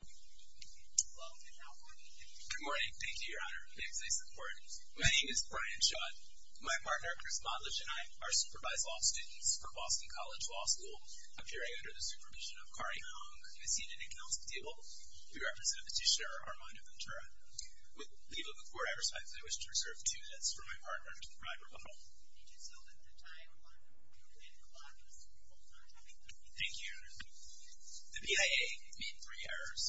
Good morning. Thank you, Your Honor. Thanks for your support. My name is Brian Schott. My partner, Chris Modlich, and I are supervised law students for Boston College Law School, appearing under the supervision of Kari Hong, Miss Union and Counsel Table. We represent Petitioner Armando Ventura. With leave of about four hours, I wish to reserve two minutes for my partner to provide rebuttal. Thank you, Your Honor. The PIA made three errors.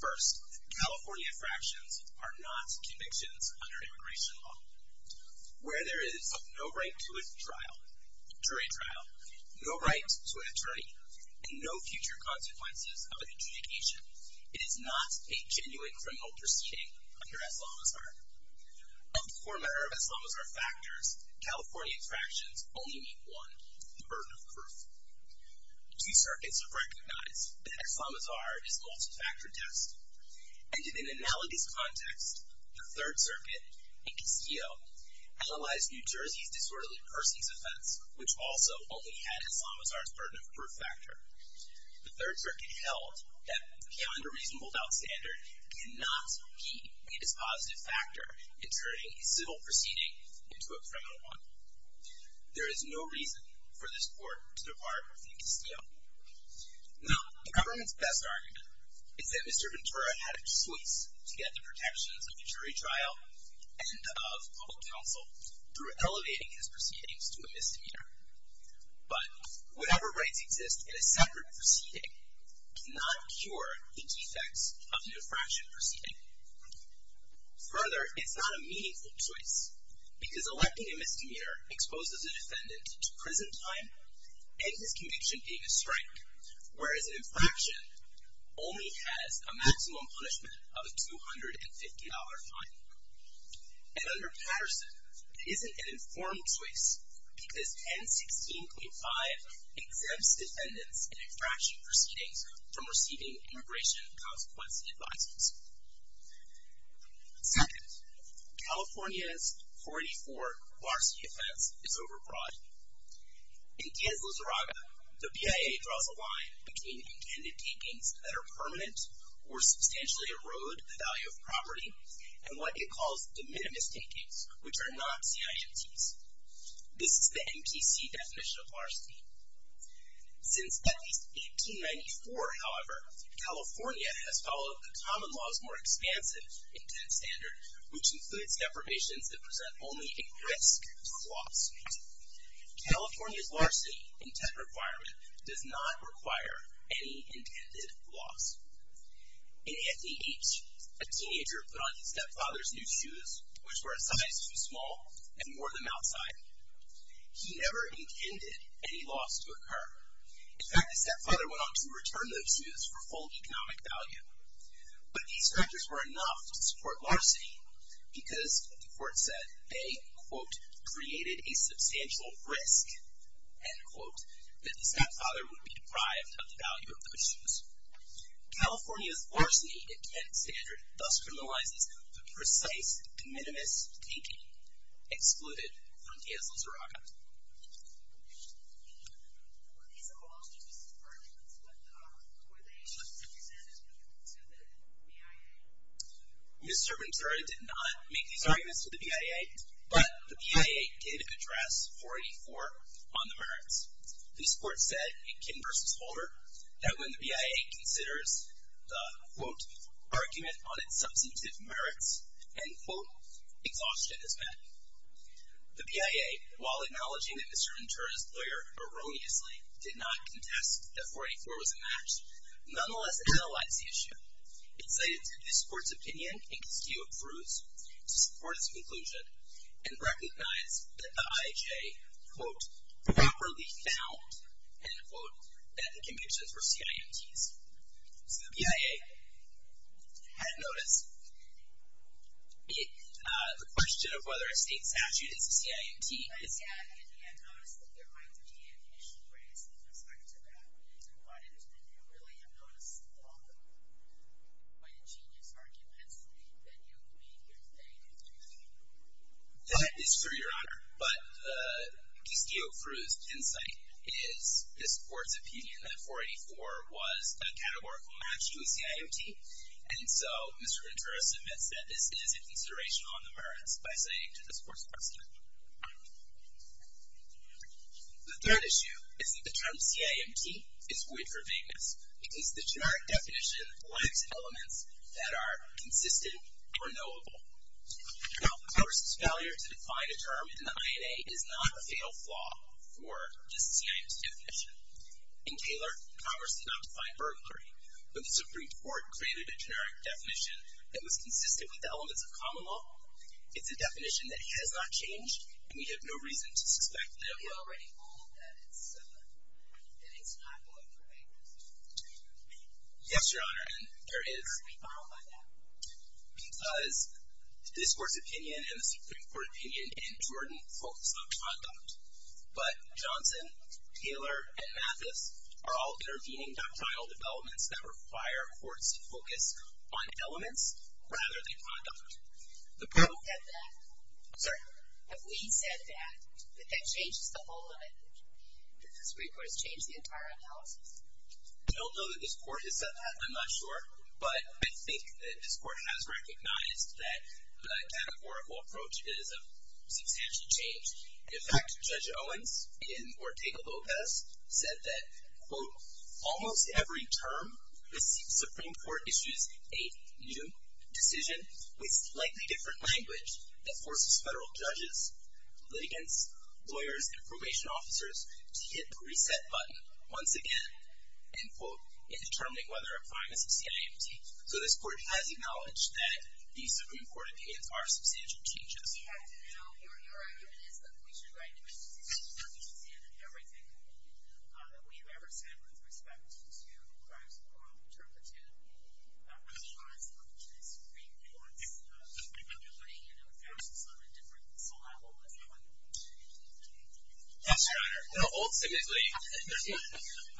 First, California fractions are not convictions under immigration law. Where there is no right to a jury trial, no right to an attorney, and no future consequences of an adjudication, it is not a genuine criminal proceeding under Islamazar. Of the former Arab Islamazar factors, California fractions only meet one, the burden of proof. Two circuits recognized that Islamazar is a multi-factor test. And in an analogous context, the Third Circuit, a PCO, analyzed New Jersey's disorderly persons offense, which also only had Islamazar's burden of proof factor. The Third Circuit held that beyond a reasonable doubt standard cannot be a dispositive factor in turning a civil proceeding into a criminal one. There is no reason for this court to depart from the PCO. Now, the government's best argument is that Mr. Ventura had a choice to get the protections of a jury trial and of public counsel through elevating his proceedings to a misdemeanor. But whatever rights exist in a separate proceeding cannot cure the defects of the diffraction proceeding. Further, it's not a meaningful choice because electing a misdemeanor exposes a defendant to prison time and his conviction being a strike, whereas an infraction only has a maximum punishment of a $250 fine. And under Patterson, it isn't an informed choice because 1016.5 exempts defendants in infraction proceedings from receiving immigration consequence advisers. Second, California's 484 Varsity offense is overbroad. In Diaz-Lizarraga, the BIA draws a line between intended takings that are permanent or substantially erode the value of property and what it calls de minimis takings, which are not CIMTs. This is the MTC definition of varsity. Since at least 1894, however, California has followed the common law's more expansive intent standard, which includes deprivations that present only a risk for loss. California's varsity intent requirement does not require any intended loss. In Anthony H., a teenager put on his stepfather's new shoes, which were a size too small, and he wore them outside. He never intended any loss to occur. In fact, the stepfather went on to return those shoes for full economic value. But these factors were enough to support varsity because, the court said, they, quote, created a substantial risk, end quote, that the stepfather would be deprived of the value of those shoes. California's varsity intent standard thus criminalizes the precise de minimis taking excluded from Diaz-Lizarraga. These are all just assertions, but were they just presented to the BIA? Mr. Ventura did not make these arguments to the BIA, but the BIA did address 484 on the merits. This court said in Kim v. Holder that when the BIA considers the, quote, argument on its substantive merits, end quote, exhaustion is met. The BIA, while acknowledging that Mr. Ventura's lawyer erroneously did not contest that 484 was a match, nonetheless analyzed the issue. It cited this court's opinion and dispute of truths to support its conclusion and recognized that the IHA, quote, properly found, end quote, that the convictions were CIMTs. So the BIA had noticed. The question of whether a state statute is a CIMT is. But the IHA had noticed that there might be an issue raised in respect to that. And what it is that you really have noticed along the way, quite ingenious arguments that you made here today, Mr. Ventura. That is true, Your Honor. But the dispute of truths insight is this court's opinion that 484 was a categorical match to a CIMT. And so Mr. Ventura submits that this is a consideration on the merits by citing to this court's question. The third issue is that the term CIMT is weird for vagueness because the generic definition points to elements that are consistent or knowable. Now, Congress's failure to define a term in the INA is not a fatal flaw for the CIMT definition. In Taylor, Congress did not define burglary, but the Supreme Court created a generic definition that was consistent with the elements of common law. It's a definition that has not changed, and we have no reason to suspect that it will. We already know that it's not going for vagueness. Yes, Your Honor. And there is. Are we followed by that? Because this court's opinion and the Supreme Court opinion and Jordan focus on conduct. But Johnson, Taylor, and Mathis are all intervening doctrinal developments that require courts to focus on elements rather than conduct. The proof that that— Have we said that? Sorry? Have we said that, that that changes the whole of it? Did the Supreme Court change the entire analysis? I don't know that this court has said that. I'm not sure. But I think that this court has recognized that the categorical approach is of substantial change. In fact, Judge Owens in Ortega-Lopez said that, quote, almost every term the Supreme Court issues a new decision with slightly different language that forces federal judges, litigants, lawyers, and probation officers to hit the reset button once again, end quote, in determining whether a fine is a CIMT. So this court has acknowledged that the Supreme Court opinions are substantial changes. Your argument is that we should write new decisions, but we should say that everything that we've ever said with respect to crimes of moral interpretation applies up to the Supreme Court's putting in emphasis on a different syllable, let's call it. Yes, Your Honor.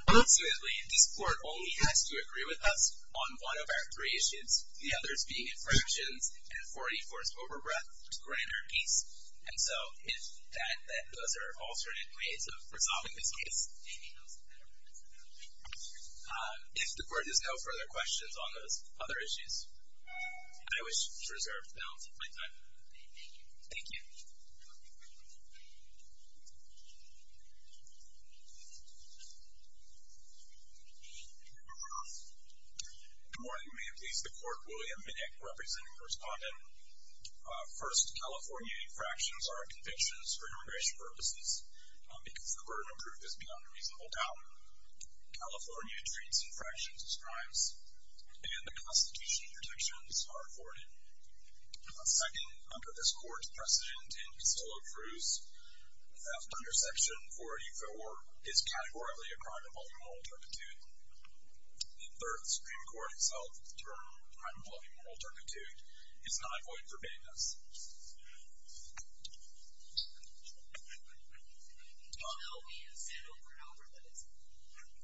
Ultimately, this court only has to agree with us on one of our three issues, the others being infractions and 484's overbreadth to grant our peace. And so if those are alternate ways of resolving this case, if the court has no further questions on those other issues, I wish to reserve the balance of my time. Thank you. Thank you, Your Honor. Good morning. May it please the Court, William Minnick representing the respondent. First, California infractions are convictions for immigration purposes because the burden of proof is beyond a reasonable doubt. California treats infractions as crimes, and the constitutional protections are afforded. Second, under this court's precedent in Castillo-Cruz, theft under section 484 is categorically a crime involving moral interpretation. In third, the Supreme Court has held that the term crime involving moral interpretation is not a void of forbiddenness. You know we have said over and over that it's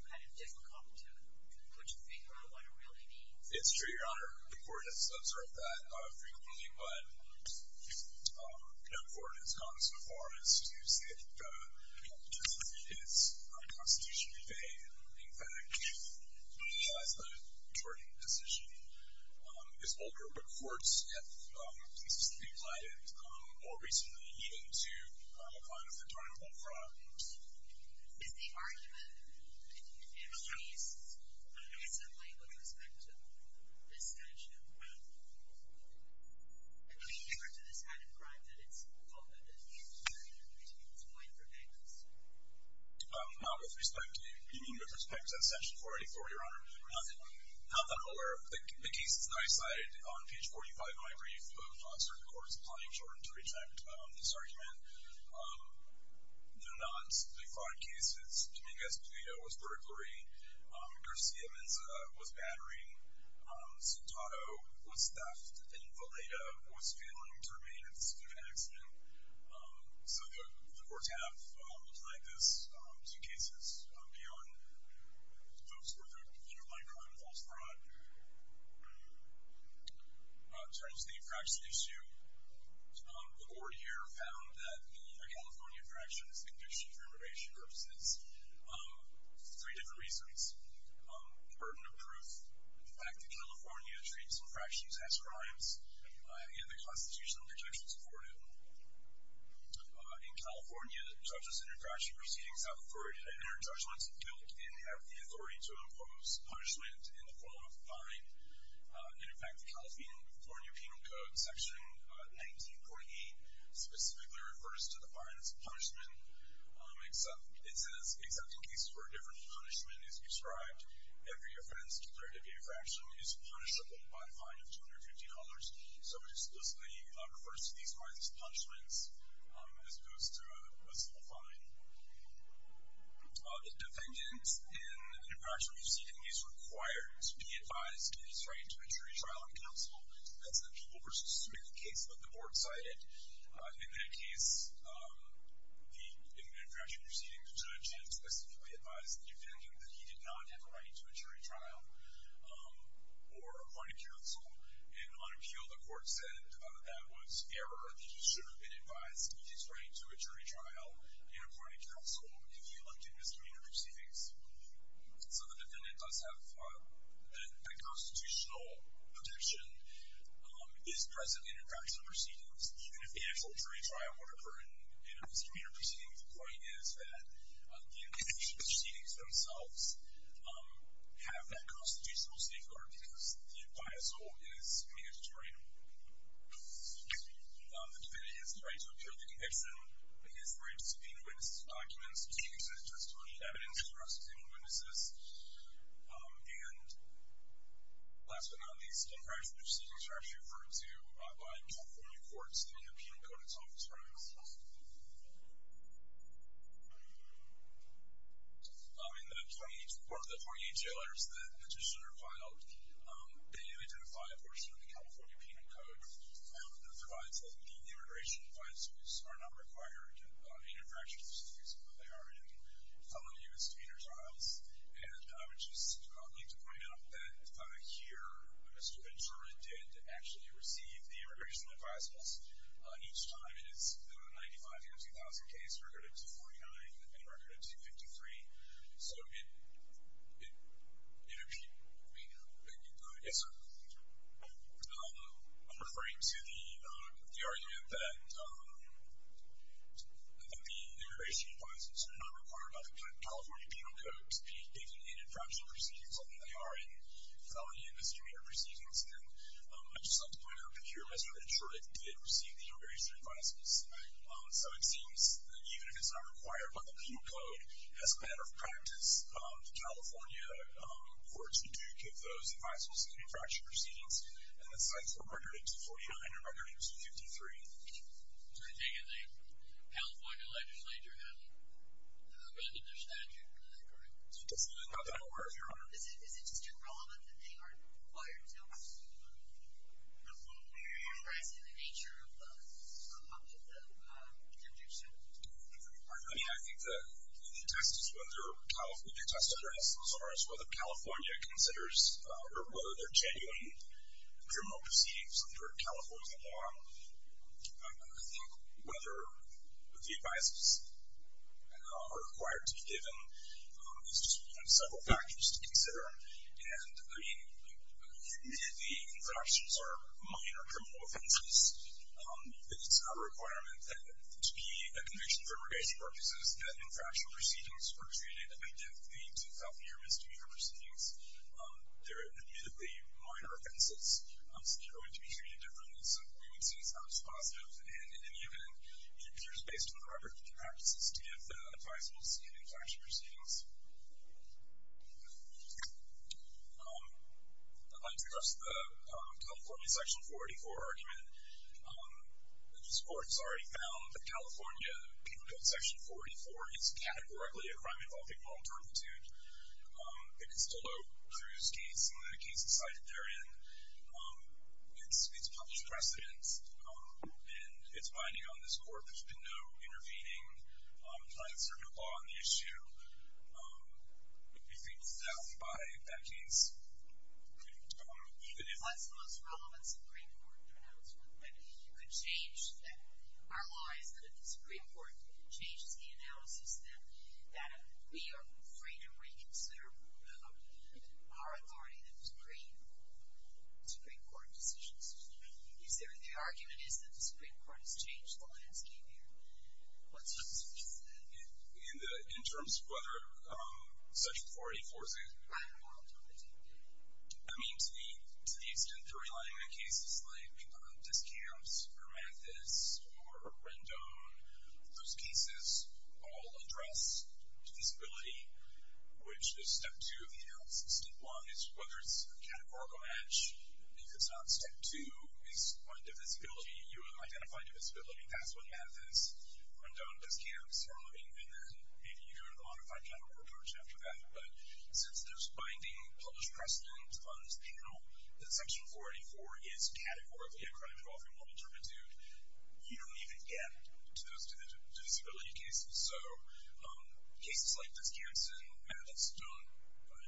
kind of difficult to figure out what it really means. It's true, Your Honor. The court has observed that frequently, but no court has gone so far as to say that the justice is constitutionally vain. In fact, the majority decision is older, but courts have consistently applied it more recently, even to a kind of internal fraud. Is the argument in the case, is it lame with respect to this statute? I mean, compared to this kind of crime that it's called an infraction, it's void of forbiddenness. Not with respect to, you mean with respect to section 484, Your Honor? Not that I'm aware of. The cases that I cited on page 45 of my brief, certain courts have probably insured to reject this argument. They're not the fraud cases. Dominguez-Palito was burglary. Garcia-Menza was battering. Zutado was theft. And Valeta was failing to remain at the scene of an accident. So the courts have applied this to cases beyond folks who are convicted of underlying crime, false fraud. In terms of the infraction issue, the court here found that the lower California infraction is the conviction for immigration purposes. Three different reasons. Burden of proof. The fact that California treats infractions as crimes, and the constitutional protections afforded. In California, judges in infraction proceedings have authority to enter judgments of guilt and have the authority to impose punishment in the form of a fine. And in fact, the California Penal Code, section 1948, specifically refers to the fine as a punishment. It says, except in cases where a different punishment is prescribed, every offense declared to be a fraction is punishable by a fine of $250. So it explicitly refers to these fines as punishments, as opposed to a simple fine. The defendant in an infraction proceeding is required to be advised that he has a right to a jury trial in counsel. That's an appeal versus smoothing case that the board cited. In that case, in the infraction proceeding, the judge had specifically advised the defendant that he did not have a right to a jury trial or appointed counsel. And on appeal, the court said that was error, that he should have been advised that he has a right to a jury trial. And appointed counsel if he elected misdemeanor proceedings. So the defendant does have the constitutional protection is present in infraction proceedings. Even if he had a jury trial, whatever, in a misdemeanor proceeding, the point is that the infraction proceedings themselves have that constitutional safeguard because the bias rule is mandatory. Excuse me. The defendant has the right to appeal the conviction. He has the right to subpoena witnesses' documents. Subpoenas are justifiable evidence for prosecuting witnesses. And last but not least, infraction proceedings are actually referred to by California courts in the Penal Code itself. In the 48, or the 48 jailers that petitioner filed, they have identified a portion of the California Penal Code that provides that the immigration advisors are not required in infraction proceedings, although they are in felony misdemeanor trials. And I would just like to point out that here, Mr. Ventura did actually receive the immigration advisers. And each time, it is the 95-2000 case, recorded 249, and recorded 253. So, in appeal, I mean, I'm referring to the argument that I think the immigration advisors are not required by the California Penal Code to be given in infraction proceedings, although they are in felony misdemeanor proceedings. And I would just like to point out that here, Mr. Ventura did receive the immigration advisors. So it seems that even if it's not required by the Penal Code, as a matter of practice, the California courts do give those advisers in infraction proceedings. And it's either recorded in 249 or recorded in 253. I take it the California legislature hasn't amended their statute for that, correct? It doesn't even have that word, Your Honor. Is it just irrelevant that they aren't required? I'm not aware of the nature of the objection. I mean, I think the test is whether California considers or whether there are genuine criminal proceedings under California law. I think whether the advisers are required to be given, I mean, admittedly, infractions are minor criminal offenses. It's not a requirement that to be a conviction for immigration purposes that infraction proceedings are treated independently to felony or misdemeanor proceedings. They're admittedly minor offenses. So they're going to be treated differently. So we would say it's not as positive. And in any event, it appears based on the record of the practices to give advisers in infraction proceedings. I'd like to address the California Section 44 argument. This Court has already found that California Penal Code Section 44 is categorically a crime involving moral turpitude. It can still vote through this case and the case it's cited therein. It's published in precedence. And it's binding on this Court. I think that by that case, even if... That's the most relevant Supreme Court pronouncement. You could change that. Our law is that if the Supreme Court changes the analysis, then we are free to reconsider our authority in the Supreme Court decisions. The argument is that the Supreme Court has changed the landscape here. What's your response to that? In terms of whether Section 44 is a crime of moral turpitude? I mean, to the extent they're relying on cases like Discamps or Manifest or Rendon, those cases all address divisibility, which is Step 2 of the analysis. Step 1 is whether it's a categorical match. If it's not, Step 2 is find divisibility. You identify divisibility. That's what Manifest, Rendon, Discamps, and then maybe you go to the modified categorical approach after that. But since there's binding published precedent on this panel that Section 484 is categorically a crime of moral turpitude, you don't even get to those divisibility cases. So cases like Discamps and Manifest don't affect...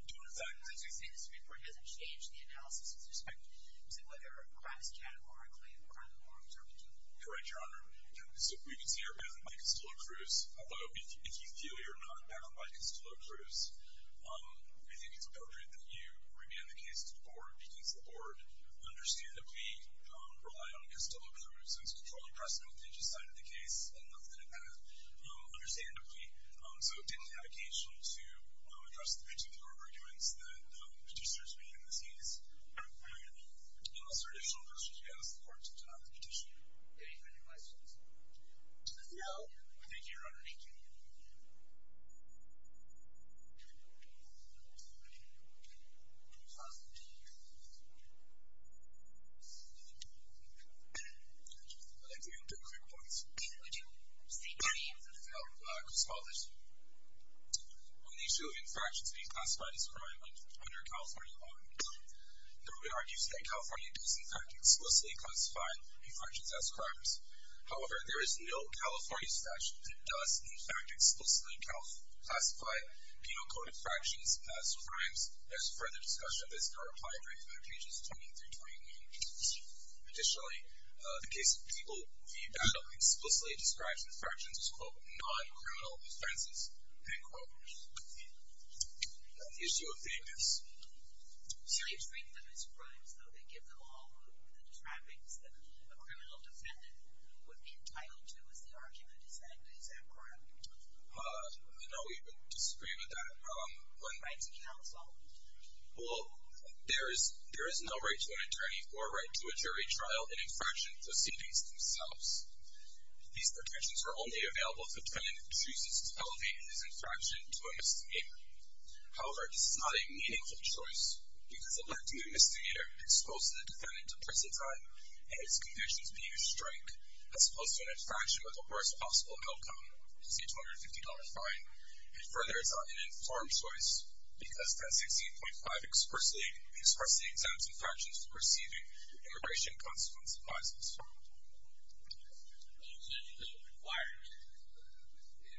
So you're saying the Supreme Court hasn't changed the analysis with respect to whether a crime is categorically a crime of moral turpitude? Correct, Your Honor. So we can see you're backed up by Costello-Cruz. Although, if you feel you're not backed up by Costello-Cruz, I think it's appropriate that you remand the case to the Board because the Board understandably relied on Costello-Cruz and is controlling precedent on each side of the case and nothing of that, understandably. So it didn't have occasion to address the particular arguments that Petitioner's made in this case. Unless there are additional questions, we ask the Court to deny the petition. Any further questions? No. Thank you, Your Honor. Thank you. I have two quick points. Would you state the name of the felon who caused all this? On the issue of infractions being classified as a crime under California law, the Rubin argues that California does, in fact, explicitly classify infractions as crimes. However, there is no California statute that does, in fact, explicitly classify penal-coded infractions as crimes. There's further discussion of this in our reply brief under pages 20 through 21. Additionally, the case of people we battle explicitly describes infractions as, quote, non-criminal offenses, end quote. On the issue of plaintiffs. So you treat them as crimes, though they give them all the trappings that a criminal defendant would be entitled to as the argument is that it is a crime? No, we disagree with that. When right to counsel? Well, there is no right to an attorney or right to a jury trial in infraction proceedings themselves. These protections are only available if the defendant chooses to elevate his infraction to a misdemeanor. However, this is not a meaningful choice because elevating a misdemeanor exposes the defendant to prison time and his convictions being a strike, as opposed to an infraction with the worst possible outcome, the $850 fine. And further, it's not an informed choice because Pen 16.5 expressly exempts infractions from receiving immigration-consequence advises. But you said you don't require it.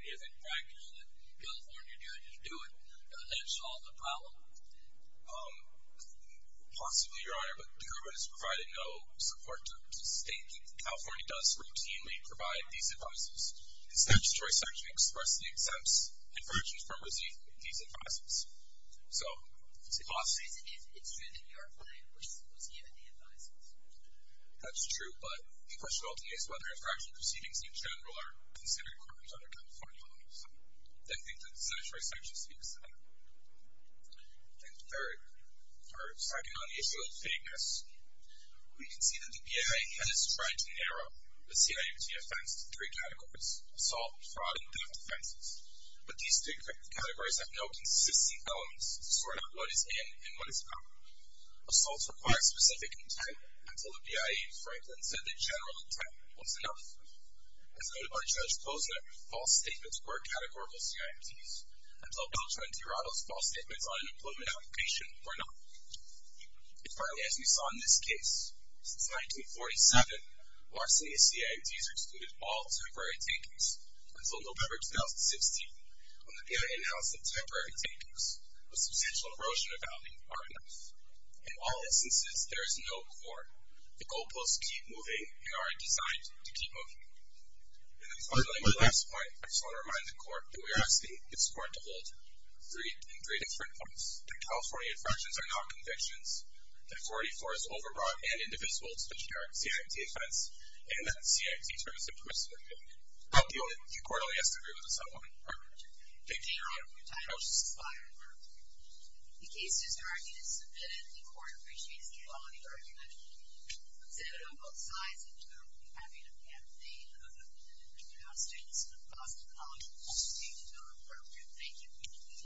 If infractions in California do it, you do it. Does that solve the problem? Possibly, Your Honor. But the government has provided no support to the state. California does routinely provide these advises. The statutory section expressly exempts infractions from receiving these advises. So it's possible. It's true that your client was given the advises. That's true, but the question ultimately is whether infraction proceedings in general are considered crimes under California law. So I think that the statutory section speaks to that. And third, stacking on the issue of fakeness, we can see that the BIA has tried to narrow the CIMT offense to three categories, assault, fraud, and theft offenses. But these three categories have no consistent elements to sort out what is in and what is out. Assaults require specific intent until the BIA in Franklin said that general intent was enough. As noted by Judge Posner, false statements were categorical CIMTs until Judge Monteirado's false statements on an employment application were not. And finally, as we saw in this case, since 1947, Marcia CIMTs have excluded all temporary takings until November 2016, when the BIA announced that temporary takings of substantial erosion of value are enough. In all instances, there is no court. The goalposts keep moving and are designed to keep moving. And then finally, my last point, I just want to remind the court that we are asking its court to hold three different points, that California infractions are not convictions, that 44 is overbought and indivisible to the generic CIMT offense, and that the CIMT term is impermissible to make. The court only has to agree with this one. Thank you very much. Thank you.